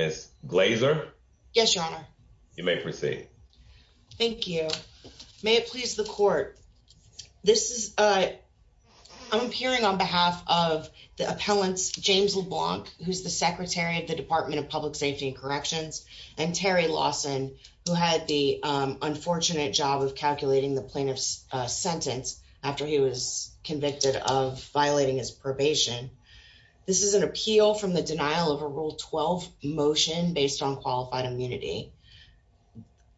Ms. Glazer. Yes, Your Honor. You may proceed. Thank you. May it please the court. This is a I'm appearing on behalf of the appellants, James LeBlanc, who's the secretary of the Department of Public Safety and Corrections, and Terry Lawson, who had the unfortunate job of calculating the plaintiff's sentence after he was convicted of violating his probation. This is an appeal from the denial of a Rule 12 motion based on qualified immunity.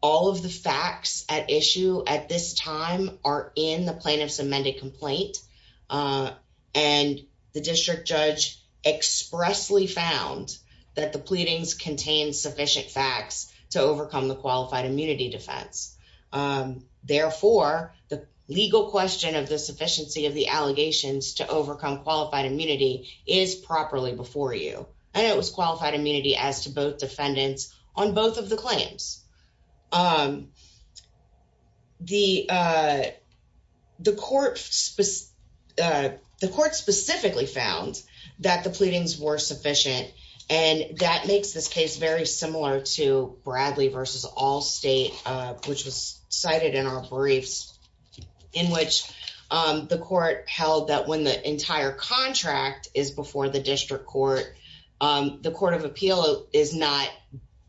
All of the facts at issue at this time are in the plaintiff's amended complaint. And the district judge expressly found that the pleadings contain sufficient facts to overcome the qualified immunity defense. Therefore, the legal question of the sufficiency of the allegations to overcome qualified immunity is properly before you. And it was qualified immunity as to both defendants on both of the claims. The court specifically found that the pleadings were sufficient. And that makes this case very similar to Bradley v. Allstate, which was cited in our briefs, in which the court held that when the entire contract is before the district court, the Court of Appeal is not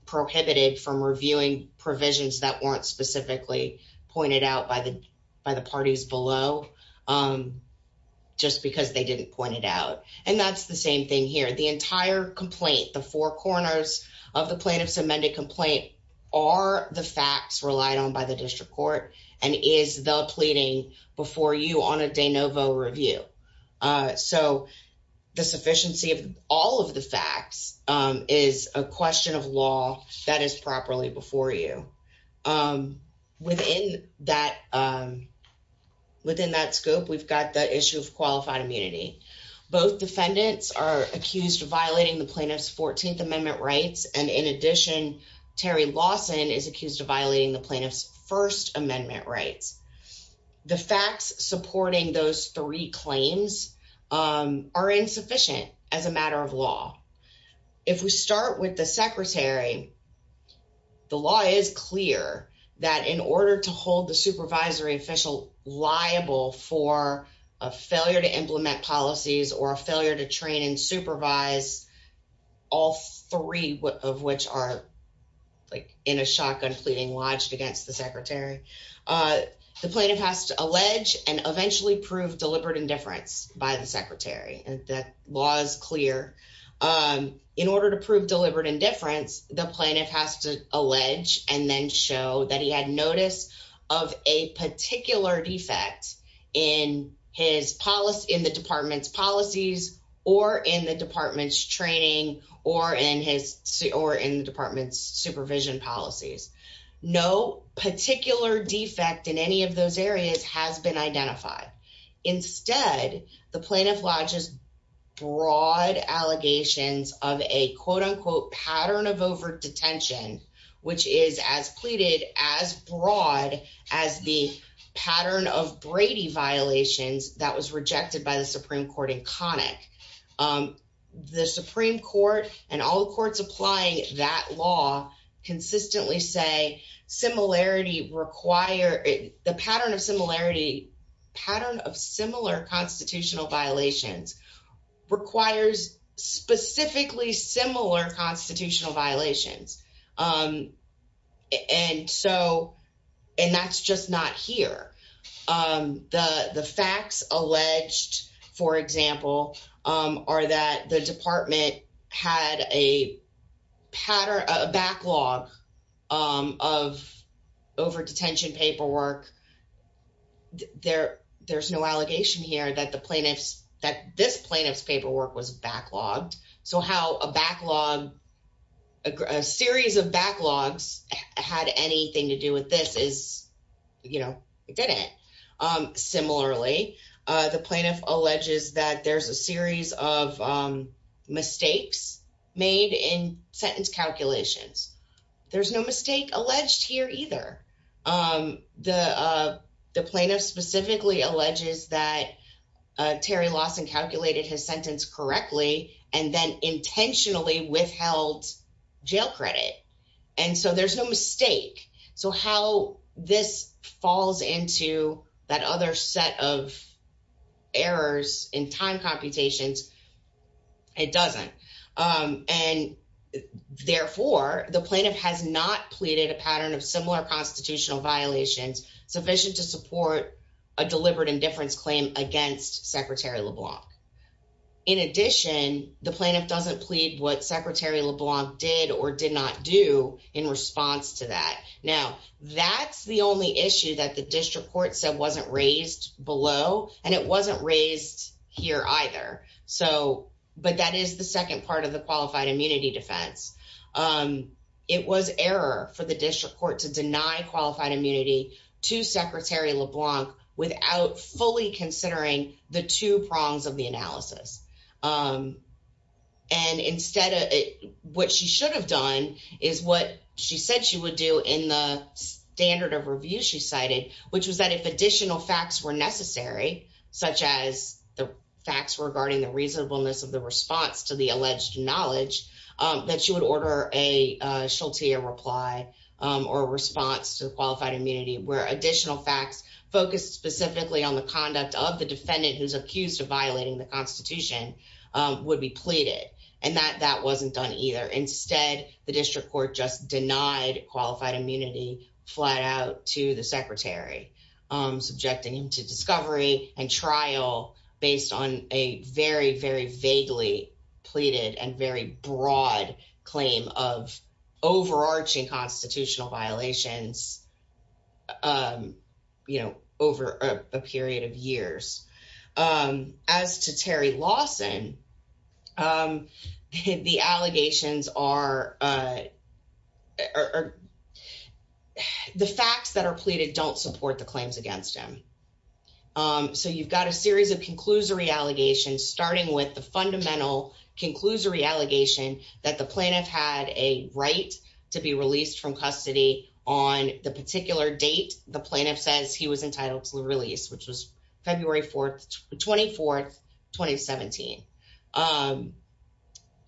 prohibited from reviewing provisions that weren't specifically pointed out by the by the parties below just because they didn't point it out. And that's the same thing here. The entire complaint, the four corners of the plaintiff's amended complaint, are the facts relied on by the district court and is the pleading before you on a de novo review. So the sufficiency of all of the facts is a question of law that is properly before you. Within that scope, we've got the issue of qualified immunity. Both defendants are accused of violating the plaintiff's First Amendment rights. The facts supporting those three claims are insufficient as a matter of law. If we start with the secretary, the law is clear that in order to hold the supervisory official liable for a failure to implement policies or a failure to train and supervise all three of which are like in a shotgun pleading lodged against the secretary, the plaintiff has to allege and eventually prove deliberate indifference by the secretary. That law is clear. In order to prove deliberate indifference, the plaintiff has to allege and then show that he had notice of a particular defect in the department's policies or in the department's training or in the department's supervision policies. No particular defect in any of those areas has been identified. Instead, the plaintiff lodges broad allegations of a quote-unquote as the pattern of Brady violations that was rejected by the Supreme Court in Connick. The Supreme Court and all the courts applying that law consistently say the pattern of similar constitutional violations requires specifically similar violations. That's just not here. The facts alleged, for example, are that the department had a backlog of over-detention paperwork. There's no allegation here that this plaintiff's a series of backlogs had anything to do with this. It didn't. Similarly, the plaintiff alleges that there's a series of mistakes made in sentence calculations. There's no mistake alleged here either. The plaintiff specifically alleges that Terry Lawson calculated his sentence correctly and then intentionally withheld jail credit. There's no mistake. How this falls into that other set of errors in time computations, it doesn't. Therefore, the plaintiff has not pleaded a pattern of similar constitutional violations sufficient to support a deliberate indifference claim against Secretary LeBlanc. In addition, the plaintiff doesn't plead what Secretary LeBlanc did or did not do in response to that. Now, that's the only issue that the district court said wasn't raised below, and it wasn't raised here either. That is the second part of the qualified immunity defense. It was error for the district court to deny qualified immunity to Secretary LeBlanc without fully considering the two prongs of the analysis. Instead, what she should have done is what she said she would do in the standard of review she cited, which was that if additional facts were necessary, such as the facts regarding the reasonableness of the response to the alleged knowledge, that she would order a Sheltier reply or response to the qualified immunity where additional facts focused specifically on the conduct of the defendant who's accused of violating the Constitution would be pleaded. That wasn't done either. Instead, the district court just denied qualified immunity flat out to the Secretary, subjecting him to discovery and trial based on a very, very vaguely pleaded and very broad claim of overarching constitutional violations over a period of years. As to Terry Lawson, the allegations are... The facts that are pleaded don't support the claims against him. So you've got a series of conclusory allegations, starting with the fundamental conclusory allegation that the plaintiff had a right to be released from custody on the particular date the plaintiff says he was entitled to the release, which was February 4th, 24th, 2017.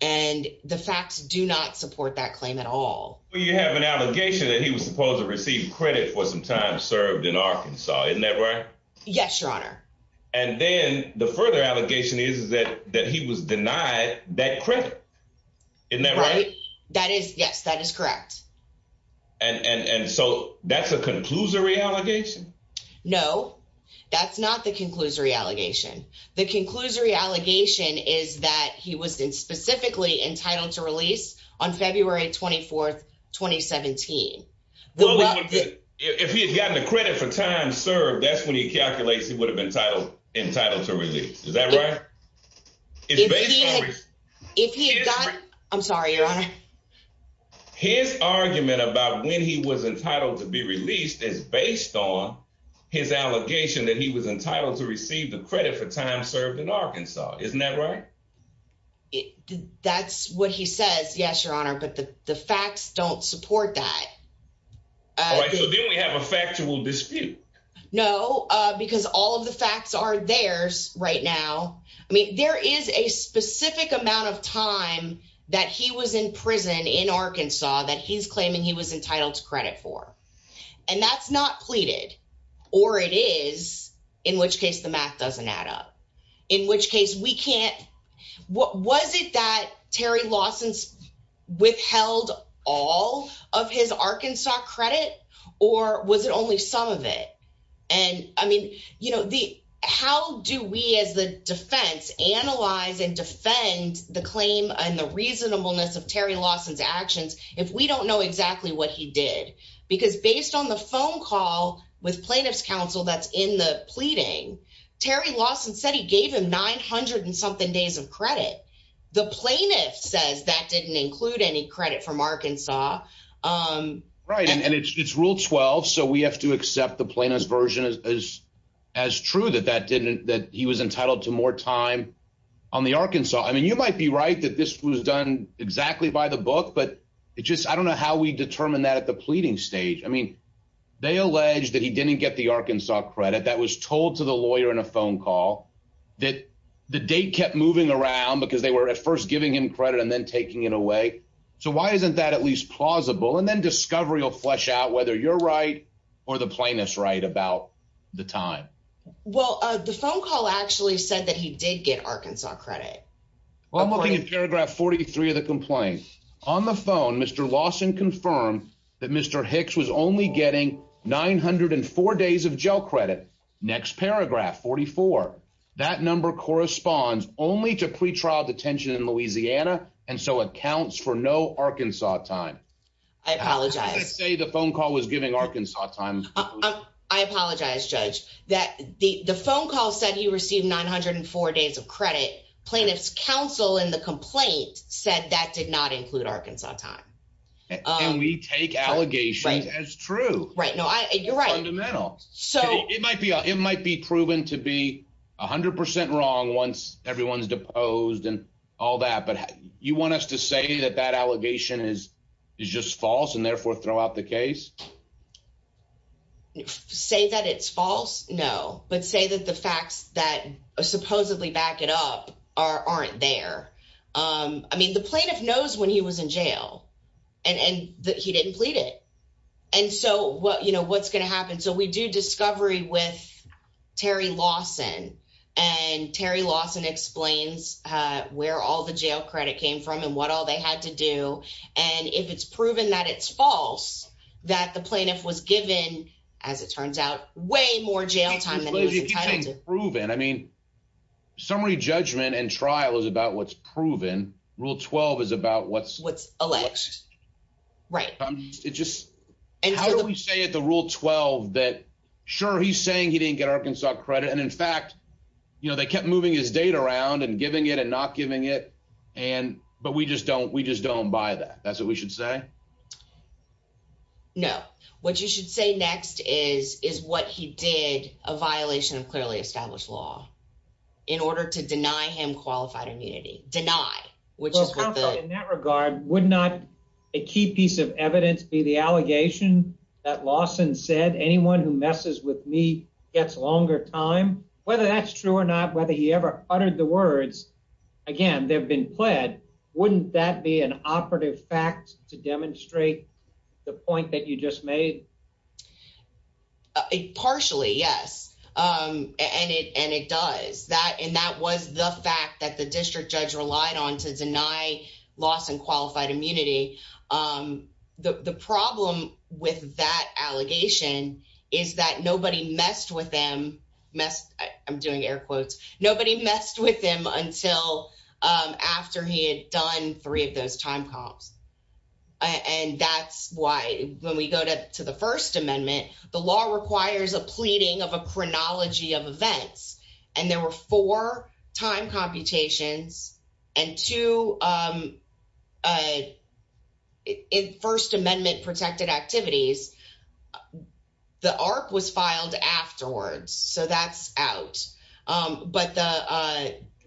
And the facts do not support that claim at all. Well, you have an allegation that he was supposed to receive credit for some time served in Arkansas. Yes, Your Honor. And then the further allegation is that he was denied that credit. Isn't that right? That is, yes, that is correct. And so that's a conclusory allegation? No, that's not the conclusory allegation. The conclusory allegation is that he was specifically entitled to release on February 24th, 2017. Well, if he had gotten the credit for time served, that's when he calculates he would have been entitled to release. Is that right? I'm sorry, Your Honor. His argument about when he was entitled to be released is based on his allegation that he was entitled to receive the credit for time served in Arkansas. Isn't that right? That's what he says, yes, Your Honor, but the facts don't support that. All right, so then we have a factual dispute. No, because all of the facts are theirs right now. I mean, there is a specific amount of time that he was in prison in Arkansas that he's claiming he was entitled to credit for. And that's not pleaded, or it is, in which case the math doesn't add up, in which case we can't. Was it that Terry Lawson's withheld all of his Arkansas credit, or was it only some of it? And I mean, how do we as the defense analyze and defend the claim and the reasonableness of Terry Lawson's actions if we don't know exactly what he did? Because based on the phone call with plaintiff's counsel that's in the pleading, Terry Lawson said he gave him 900 and something days of credit. The plaintiff says that didn't include any credit from Arkansas. Right, and it's rule 12, so we have to accept the plaintiff's version as true that that didn't, that he was entitled to more time on the Arkansas. I mean, you might be right that this was done exactly by the book, but it's just, I don't know how we determine that at the pleading stage. I mean, they allege that he didn't get the Arkansas credit that was told to the lawyer in a phone call that the date kept moving around because they were at first giving him credit and then taking it away. So why isn't that at least plausible? And then discovery will flesh out whether you're right or the plaintiff's right about the time. Well, the phone call actually said that he did get Arkansas credit. Well, I'm looking at paragraph 43 of the complaint. On the phone, Mr. Lawson confirmed that Mr. Hicks was only getting 904 days of jail credit. Next paragraph, 44. That number corresponds only to pretrial detention in Louisiana and so accounts for no Arkansas time. I apologize. I say the phone call was giving Arkansas time. I apologize, Judge, that the phone call said he received 904 days of credit. Plaintiff's counsel in the complaint said that did not include Arkansas time. And we take allegations as true. Right, it might be proven to be 100% wrong once everyone's deposed and all that. But you want us to say that that allegation is just false and therefore throw out the case? Say that it's false? No. But say that the facts that supposedly back it up aren't there. I mean, the plaintiff knows when he was in jail and he didn't plead it. And so what's going to happen? So we do discovery with Terry Lawson, and Terry Lawson explains where all the jail credit came from and what all they had to do. And if it's proven that it's false, that the plaintiff was given, as it turns out, way more jail time than he was entitled to. If it's proven, I mean, summary judgment and trial is about what's proven. Rule 12 is about what's- Sure, he's saying he didn't get Arkansas credit. And in fact, they kept moving his date around and giving it and not giving it. But we just don't buy that. That's what we should say? No. What you should say next is what he did, a violation of clearly established law, in order to deny him qualified immunity. Deny, which is what the- Well, counsel, in that regard, would not a key piece of evidence be the allegation that Lawson said, anyone who messes with me gets longer time? Whether that's true or not, whether he ever uttered the words, again, they've been pled, wouldn't that be an operative fact to demonstrate the point that you just made? Partially, yes. And it does. And that was the allegation, is that nobody messed with him, I'm doing air quotes, nobody messed with him until after he had done three of those time comps. And that's why when we go to the First Amendment, the law requires a pleading of a chronology of events. And there were four time computations and two First Amendment protected activities. The ARC was filed afterwards, so that's out. But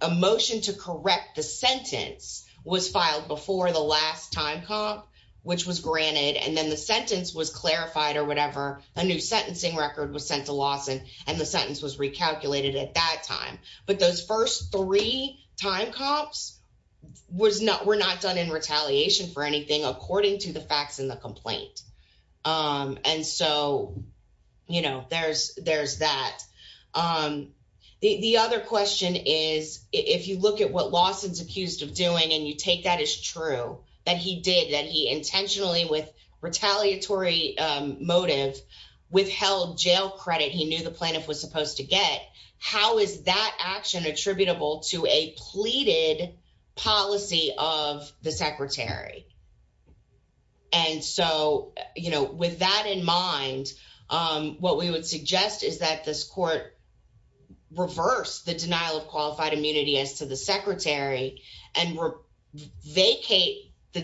a motion to correct the sentence was filed before the last time comp, which was granted, and then the sentence was clarified or whatever, a new sentencing record was sent to Lawson, and the sentence was recalculated at that time. But those first three time comps were not done in retaliation for anything, according to the facts in the complaint. And so, there's that. The other question is, if you look at what Lawson's accused of doing, and you take that as to get, how is that action attributable to a pleaded policy of the secretary? And so, with that in mind, what we would suggest is that this court reverse the denial of qualified immunity as to the secretary, and vacate the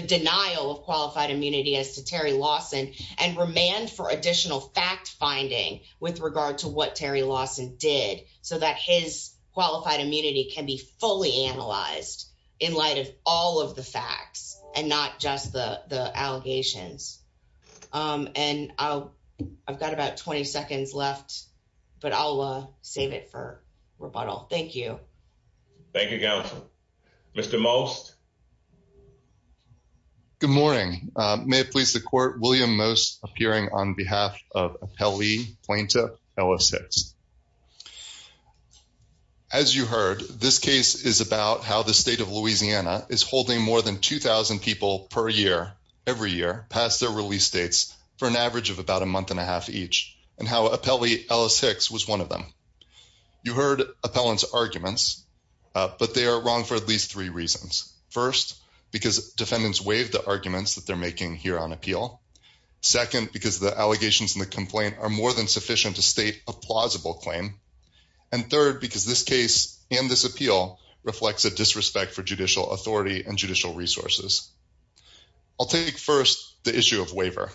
denial of qualified immunity as to Terry Lawson, and remand for additional fact finding with regard to what Terry Lawson did, so that his qualified immunity can be fully analyzed in light of all of the facts, and not just the allegations. And I've got about 20 seconds left, but I'll save it for rebuttal. Thank you. Thank you, Counsel. Mr. Most? Good morning. May it please the court, William Most, appearing on behalf of Appellee Plaintiff Ellis Hicks. As you heard, this case is about how the state of Louisiana is holding more than 2,000 people per year, every year, past their release dates, for an average of about a month and a half each, and how Appellee Ellis Hicks was one of them. You heard appellant's arguments, but they are for at least three reasons. First, because defendants waived the arguments that they're making here on appeal. Second, because the allegations in the complaint are more than sufficient to state a plausible claim. And third, because this case and this appeal reflects a disrespect for judicial authority and judicial resources. I'll take first the issue of waiver.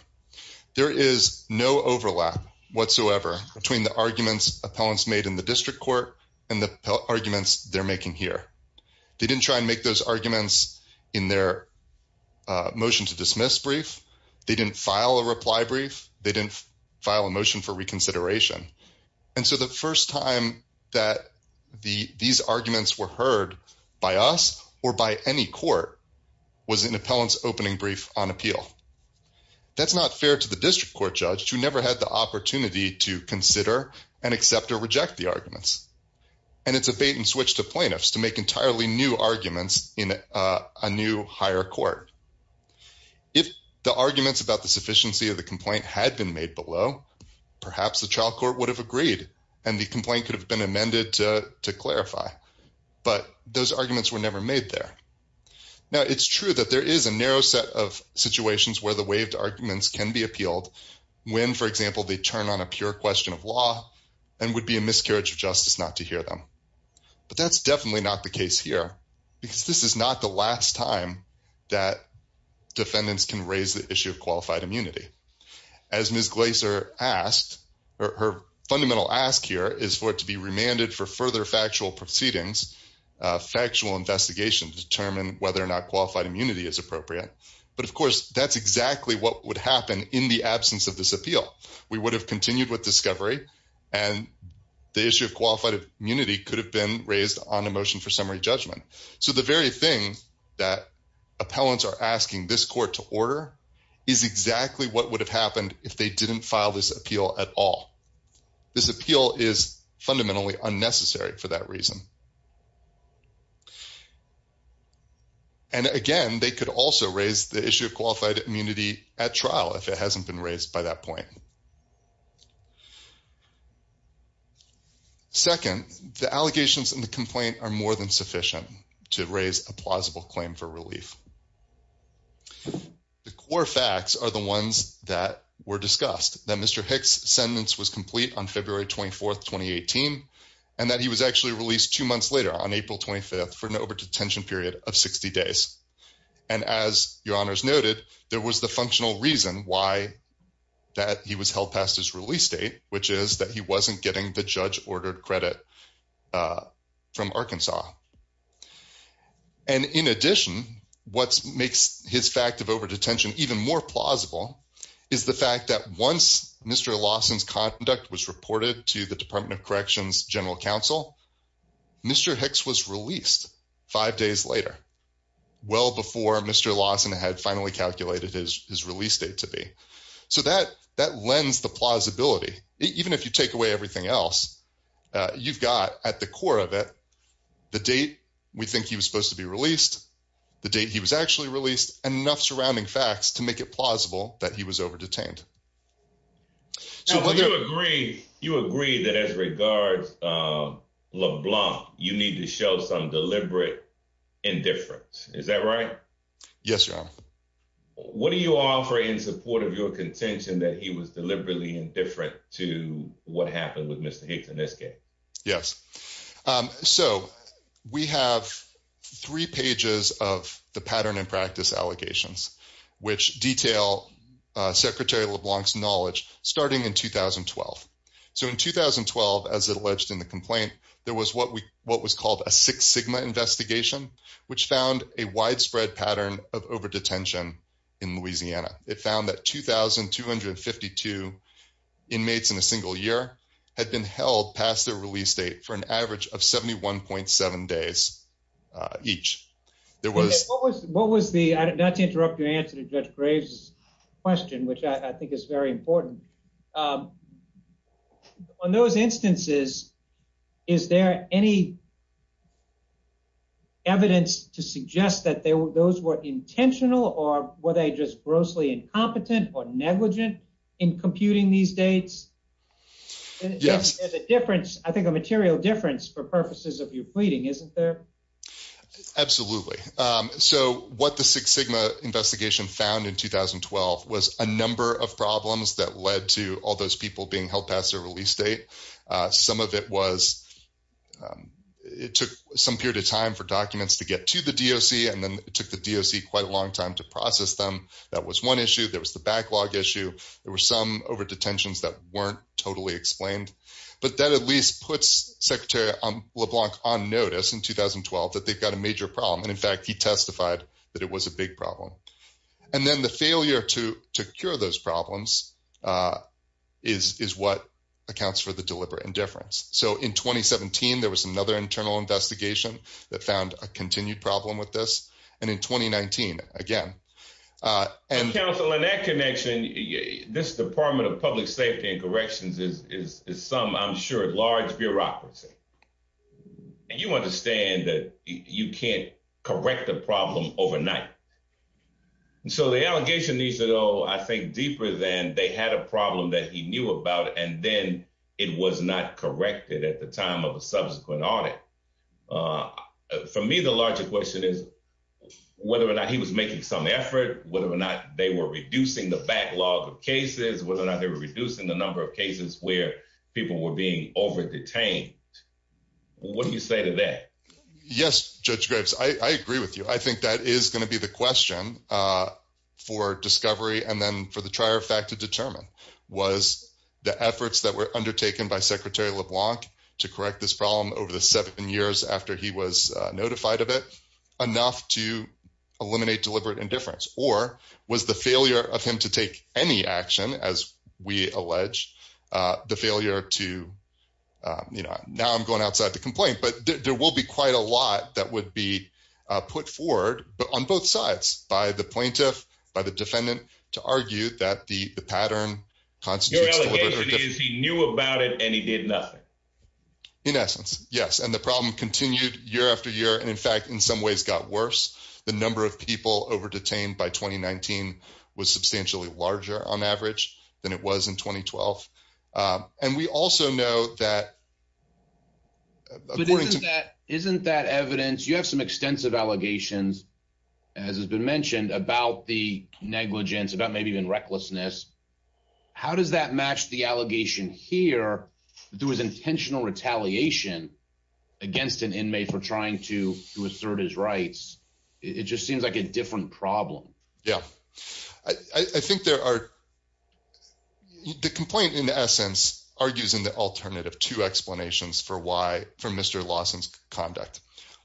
There is no overlap whatsoever between the arguments appellants made in the district court and the arguments they're making here. They didn't try and make those arguments in their motion to dismiss brief. They didn't file a reply brief. They didn't file a motion for reconsideration. And so the first time that these arguments were heard by us or by any court was in appellant's opening brief on appeal. That's not fair to the district court who never had the opportunity to consider and accept or reject the arguments. And it's a bait and switch to plaintiffs to make entirely new arguments in a new higher court. If the arguments about the sufficiency of the complaint had been made below, perhaps the trial court would have agreed and the complaint could have been amended to clarify. But those arguments were never made there. Now, it's true that there is a narrow set of situations where the waived arguments can be when, for example, they turn on a pure question of law and would be a miscarriage of justice not to hear them. But that's definitely not the case here because this is not the last time that defendants can raise the issue of qualified immunity. As Ms. Glaser asked, her fundamental ask here is for it to be remanded for further factual proceedings, factual investigation to determine whether or not qualified immunity is appropriate. But of course, that's exactly what would happen in the absence of this appeal. We would have continued with discovery and the issue of qualified immunity could have been raised on a motion for summary judgment. So the very thing that appellants are asking this court to order is exactly what would have happened if they didn't file this appeal at all. This appeal is fundamentally unnecessary for that reason. And again, they could also raise the issue of qualified immunity at trial if it hasn't been raised by that point. Second, the allegations in the complaint are more than sufficient to raise a plausible claim for relief. The core facts are the ones that were discussed, that Mr. Hicks' sentence was complete on February 24th, 2018, and that he was actually released two months later on April 25th for an over-detention period of 60 days. And as your honors noted, there was the functional reason why that he was held past his release date, which is that he wasn't getting the judge-ordered credit from Arkansas. And in addition, what makes his fact of over-detention even more plausible is the fact that once Mr. Lawson's conduct was reported to the Department of Corrections General Counsel, Mr. Hicks was released five days later, well before Mr. Lawson had finally calculated his release date to be. So that lends the plausibility. Even if you take away everything else, you've got at the core of it the date we think he was supposed to be released, the date he was actually released, and enough surrounding facts to make it plausible that he was over-detained. Now you agree that as regards LeBlanc, you need to show some deliberate indifference, is that right? Yes, your honor. What do you offer in support of your contention that he was deliberately indifferent to what happened with Mr. Hicks in this case? Yes, so we have three pages of the pattern and practice allegations, which detail Secretary LeBlanc's knowledge starting in 2012. So in 2012, as alleged in the complaint, there was what we what was called a Six Sigma investigation, which found a widespread pattern of over-detention in Louisiana. It found that 2,252 inmates in a single year had been held past their release date for an average of 71.7 days each. What was the, not to interrupt your answer to Judge Graves' question, which I think is very important, on those instances, is there any evidence to suggest that those were intentional or were they just grossly incompetent or negligent in computing these dates? Yes. There's a difference, I think a material difference, for purposes of your pleading, isn't there? Absolutely. So what the Six Sigma investigation found in 2012 was a number of problems that led to all those people being held past their release date. Some of it was it took some period of time for documents to get to the DOC and then it took the DOC quite a long time to process them. That was one issue. There was the backlog issue. There were some over-detentions that weren't totally explained. But that at least puts Secretary LeBlanc on notice in 2012 that they've got a major problem. And in fact, he testified that it was a big problem. And then the failure to cure those problems is what accounts for the deliberate indifference. So in 2017, there was another internal investigation that found a public safety and corrections is some, I'm sure, large bureaucracy. And you understand that you can't correct the problem overnight. So the allegation needs to go, I think, deeper than they had a problem that he knew about, and then it was not corrected at the time of a subsequent audit. For me, the larger question is whether or not he was making some cases, whether or not they were reducing the number of cases where people were being over-detained. What do you say to that? Yes, Judge Graves, I agree with you. I think that is going to be the question for discovery and then for the trier of fact to determine. Was the efforts that were undertaken by Secretary LeBlanc to correct this problem over the seven years after he was notified of it enough to eliminate deliberate indifference? Or was the action, as we allege, the failure to, you know, now I'm going outside the complaint, but there will be quite a lot that would be put forward on both sides by the plaintiff, by the defendant, to argue that the pattern constitutes deliberate indifference. Your allegation is he knew about it and he did nothing. In essence, yes. And the problem continued year after year. And in fact, in some ways got worse. The number of people over-detained by 2019 was substantially larger, on average, than it was in 2012. And we also know that... But isn't that evidence, you have some extensive allegations, as has been mentioned, about the negligence, about maybe even recklessness. How does that match the allegation here that there was intentional retaliation against an problem? Yeah. I think there are... The complaint, in essence, argues in the alternative two explanations for why... For Mr. Lawson's conduct.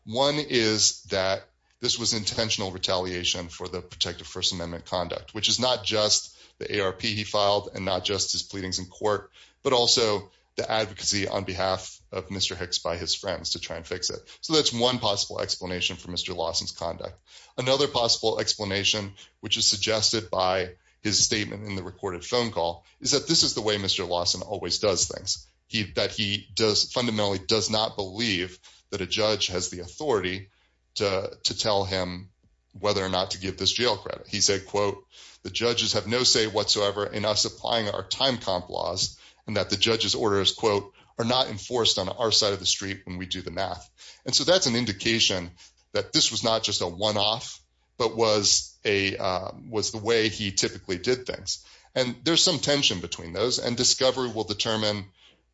One is that this was intentional retaliation for the protective First Amendment conduct, which is not just the ARP he filed and not just his pleadings in court, but also the advocacy on behalf of Mr. Hicks by his friends to try and fix it. So that's one possible explanation for Mr. Lawson's conduct. Another possible explanation, which is suggested by his statement in the recorded phone call, is that this is the way Mr. Lawson always does things. That he does... Fundamentally does not believe that a judge has the authority to tell him whether or not to give this jail credit. He said, quote, the judges have no say whatsoever in us applying our time comp laws and that the judge's orders, quote, are not enforced on our side of the street when we do the math. And so that's an indication that this was not just a one-off, but was the way he typically did things. And there's some tension between those and discovery will determine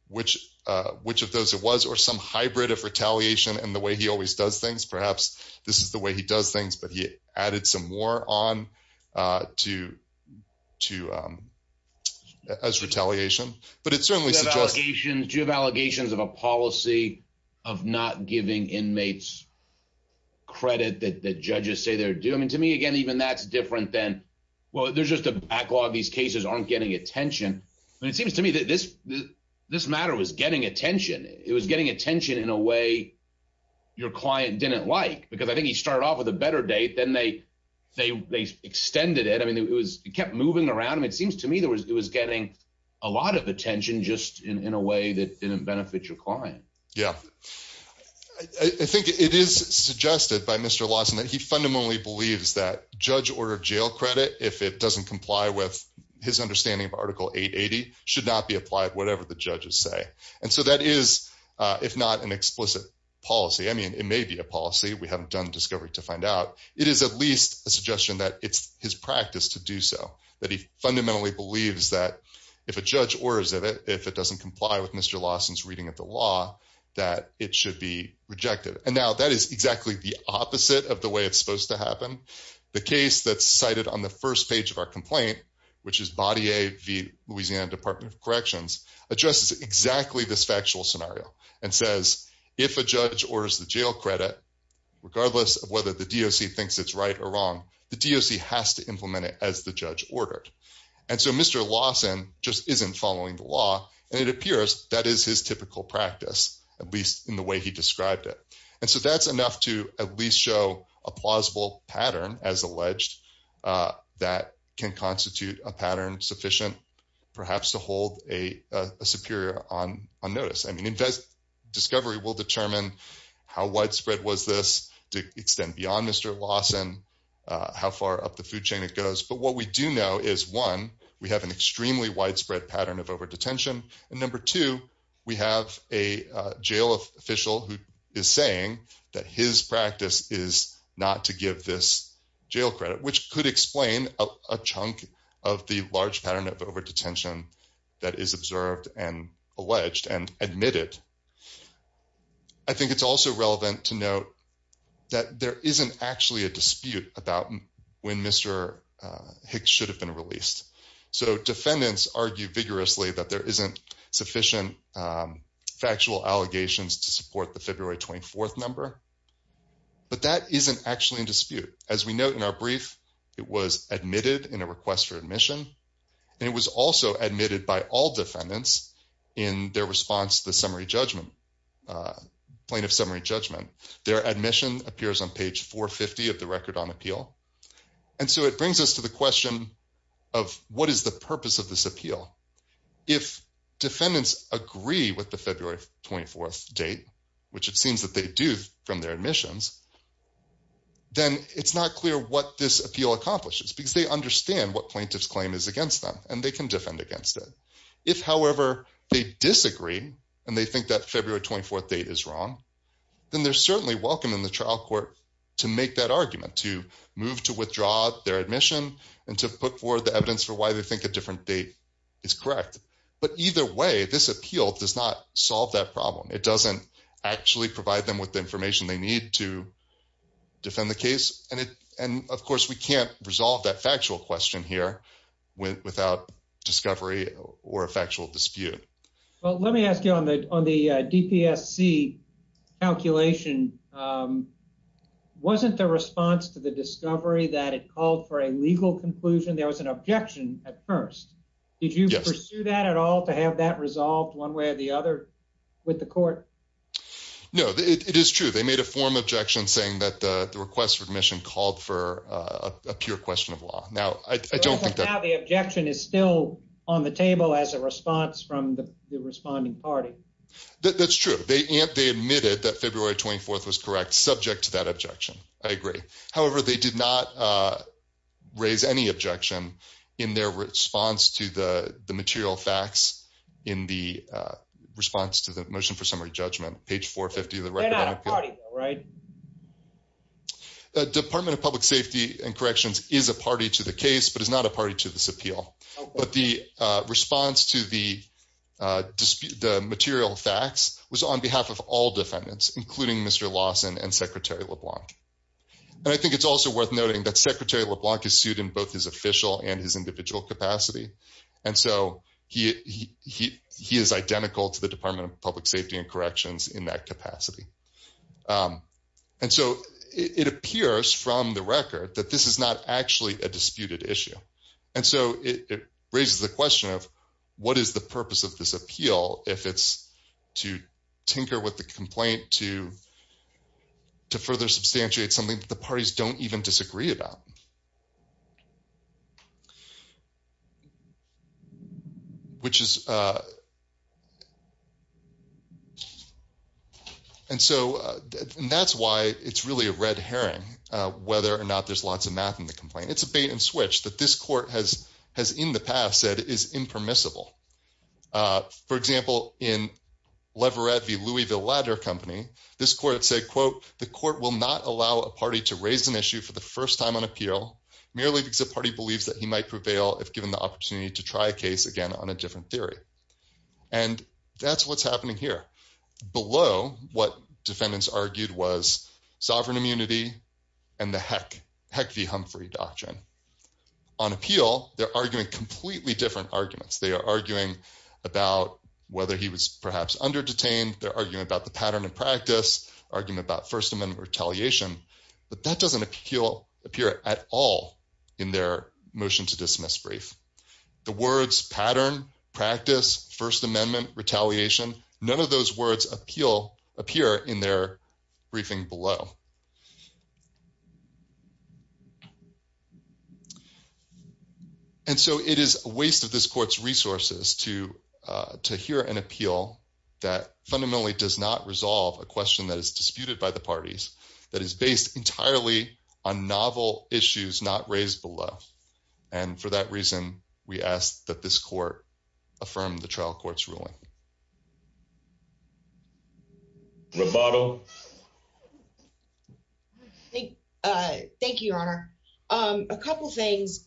which of those it was, or some hybrid of retaliation and the way he always does things. Perhaps this is the way he does things, but he added some more on to... As retaliation. But it certainly suggests... Do you have allegations of a policy of not giving inmates credit that the judges say they're due? I mean, to me, again, even that's different than, well, there's just a backlog. These cases aren't getting attention. But it seems to me that this matter was getting attention. It was getting attention in a way your client didn't like, because I think he started off with a better date. Then they got attention just in a way that didn't benefit your client. Yeah. I think it is suggested by Mr. Lawson that he fundamentally believes that judge-ordered jail credit, if it doesn't comply with his understanding of Article 880, should not be applied whatever the judges say. And so that is, if not an explicit policy, I mean, it may be a policy. We haven't done discovery to find out. It is at least a suggestion that it's his practice to do so, that he fundamentally believes that if a judge orders it, if it doesn't comply with Mr. Lawson's reading of the law, that it should be rejected. And now that is exactly the opposite of the way it's supposed to happen. The case that's cited on the first page of our complaint, which is Body A v. Louisiana Department of Corrections, addresses exactly this factual scenario and says, if a judge orders the jail credit, regardless of whether the DOC thinks it's right or wrong, the DOC has to implement it as the judge ordered. And so Mr. Lawson just isn't following the law, and it appears that is his typical practice, at least in the way he described it. And so that's enough to at least show a plausible pattern, as alleged, that can constitute a pattern sufficient, perhaps, to hold a superior on notice. I mean, discovery will determine how widespread was this to extend beyond Mr. Lawson, how far up the food chain it goes. But what we do know is, one, we have an extremely widespread pattern of over-detention, and number two, we have a jail official who is saying that his practice is not to give this jail credit, which could explain a chunk of the large pattern of over-detention that is observed and alleged and it's also relevant to note that there isn't actually a dispute about when Mr. Hicks should have been released. So defendants argue vigorously that there isn't sufficient factual allegations to support the February 24th number, but that isn't actually in dispute. As we note in our brief, it was admitted in a request for admission, and it was also admitted by all defendants in their response to the summary judgment, plaintiff summary judgment. Their admission appears on page 450 of the record on appeal. And so it brings us to the question of what is the purpose of this appeal? If defendants agree with the February 24th date, which it seems that they do from their admissions, then it's not clear what this appeal accomplishes, because they understand what plaintiff's claim is against them and they can defend against it. If, however, they disagree and they think that February 24th date is wrong, then they're certainly welcome in the trial court to make that argument, to move to withdraw their admission and to put forward the evidence for why they think a different date is correct. But either way, this appeal does not solve that problem. It doesn't actually provide them with the information they need to defend the case. And of course, we can't resolve that factual question here without discovery or a factual dispute. Well, let me ask you on the DPSC calculation, wasn't the response to the discovery that it called for a legal conclusion, there was an objection at first. Did you pursue that at all to have that resolved one way or the other with the court? No, it is true. They made a form objection saying that the request for admission called for a pure question of law. Now, I don't think that the objection is still on the table as a response from the responding party. That's true. They admitted that February 24th was correct, subject to that objection. I agree. However, they did not raise any objection in their response to the material facts in the response to the motion for summary judgment, page 450 of the record. They're not a party, right? Department of Public Safety and Corrections is a party to the case, but is not a party to this appeal. But the response to the material facts was on behalf of all defendants, including Mr. Lawson and Secretary LeBlanc. And I think it's also worth noting that Secretary LeBlanc is sued in both his official and his individual capacity. And so he is identical to the Department of Public Safety and Corrections in that capacity. And so it appears from the record that this is not actually a disputed issue. And so it raises the question of what is the purpose of this appeal if it's to tinker with the complaint to further substantiate something that the parties don't even disagree about? And so that's why it's really a red herring whether or not there's lots of math in the complaint. It's a bait and switch that this court has in the past said is impermissible. For example, in Leverett v. Louisville Ladder Company, this court said, the court will not allow a party to raise an issue for the first time on appeal merely because the party believes that he might prevail if given the opportunity to try a case again on a different theory. And that's what's happening here. Below what defendants argued was sovereign immunity and the Heck v. Humphrey doctrine. On appeal, they're arguing completely different arguments. They are arguing about whether he was perhaps under detained. They're arguing about the pattern and practice, arguing about First Amendment retaliation. But that doesn't appear at all in their motion to dismiss brief. The words pattern, practice, First Amendment, retaliation, none of those words appear in their briefing below. And so it is a waste of this court's resources to hear an appeal that fundamentally does not resolve a question that is disputed by the parties, that is based entirely on novel issues not raised below. And for that reason, we ask that this court affirm the trial court's ruling. Roboto. Thank you, Your Honor. A couple things.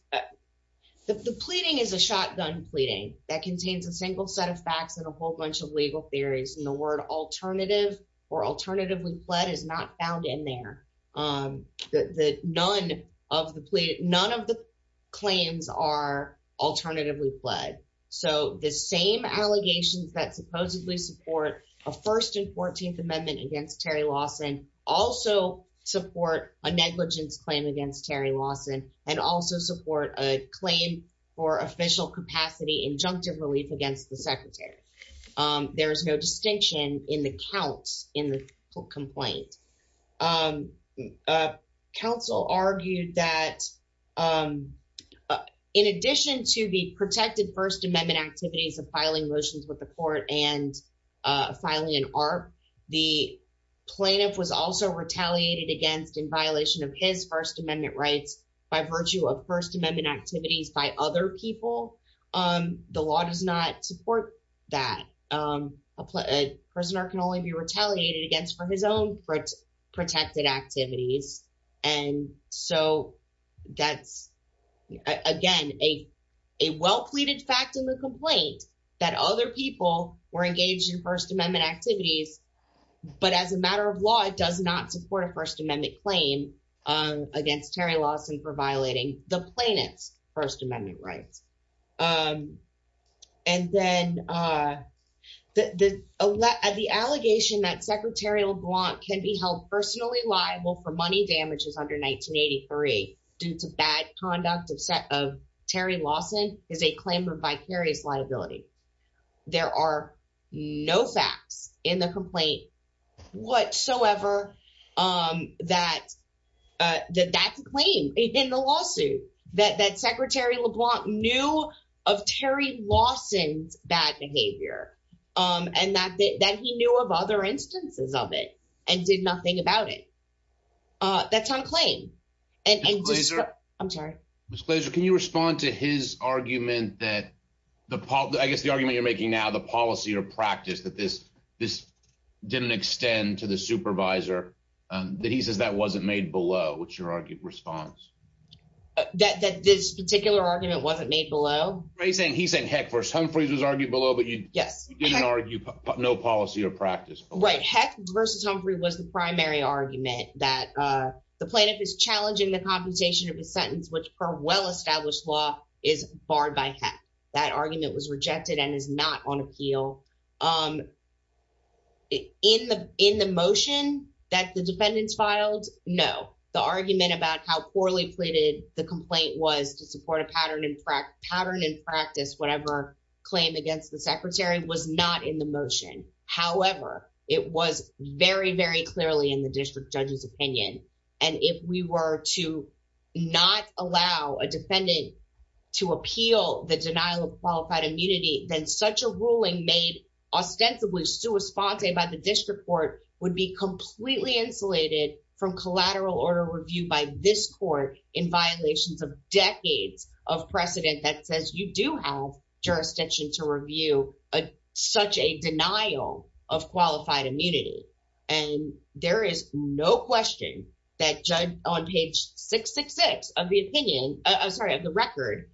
The pleading is a shotgun pleading that contains a single set of facts and a whole bunch of legal theories. And the word alternative or alternatively pled is not found in there. None of the claims are alternatively pled. So the same allegations that supposedly support a First and Fourteenth Amendment against Terry Lawson also support a negligence claim against Terry Lawson and also support a claim for official capacity injunctive relief against the secretary. There is no distinction in the counts in the complaint. Counsel argued that in addition to the protected First Amendment activities of filing motions with the court and filing an ARP, the plaintiff was also retaliated against in violation of his First Amendment rights by virtue of First Amendment activities by other people. The law does not support that. A prisoner can only be retaliated against for his own protected activities. And so that's, again, a well-pleaded fact in the complaint that other people were engaged in First Amendment activities. But as a matter of law, it does not support a First Amendment claim against Terry Lawson for violating the plaintiff's First Amendment rights. And then the allegation that Secretary LeBlanc can be held personally liable for money damages under 1983 due to bad conduct of Terry Lawson is a claim for vicarious liability. There are no facts in the complaint whatsoever that that's a claim in the lawsuit that Secretary LeBlanc knew of Terry Lawson's bad behavior and that he knew of other instances of it and did nothing about it. That's unclaimed. Ms. Glazer, can you respond to his argument that, I guess the argument you're making now, the policy or practice that this didn't extend to the supervisor, that he says that wasn't made below, what's your response? That this particular argument wasn't made below? He's saying heck versus Humphreys was argued below, but you didn't argue no policy or practice. Right. Heck versus Humphrey was the primary argument that the plaintiff is challenging the computation of a sentence which per well-established law is barred by heck. That argument was rejected and is not on appeal. In the motion that the defendants filed, no. The argument about how poorly pleaded the complaint was to support a pattern and practice, whatever claim against the secretary, was not in the motion. However, it was very, very clearly in the district judge's opinion. And if we were to not allow a defendant to appeal the denial of qualified immunity, then such a ruling made ostensibly sua sponte by the district court would be completely insulated from collateral order review by this court in violations of jurisdiction to review such a denial of qualified immunity. And there is no question that judge on page 666 of the opinion, I'm sorry, of the record,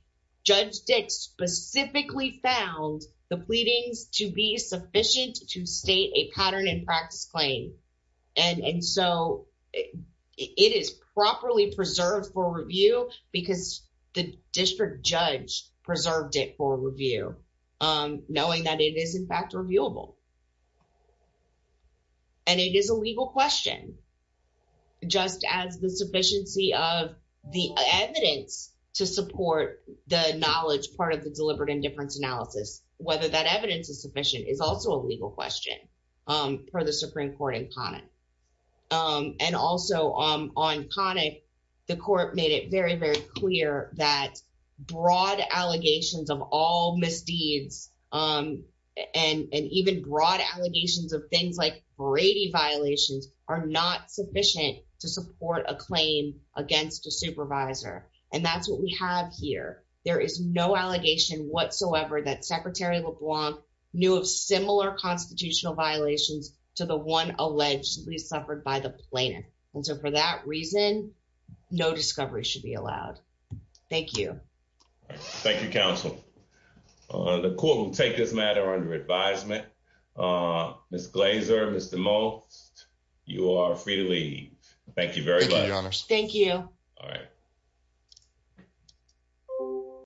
Judge Dix specifically found the pleadings to be sufficient to state a pattern and practice claim. And so it is properly preserved for review because the district judge preserved it for review knowing that it is in fact reviewable. And it is a legal question just as the sufficiency of the evidence to support the knowledge part of the deliberate indifference analysis, whether that evidence is sufficient is also a legal question for the Supreme Court in Connick. And also on Connick, the court made it very, very clear that broad allegations of all misdeeds and even broad allegations of things like Brady violations are not sufficient to support a claim against a supervisor. And that's what we have here. There is no allegation whatsoever that Secretary LeBlanc knew of similar constitutional violations to the one allegedly suffered by the plaintiff. And so for that reason, no discovery should be allowed. Thank you. Thank you, counsel. The court will take this matter under advisement. Ms. Glazer, Mr. Moe, you are free to leave. Thank you very much. Thank you. Thank you.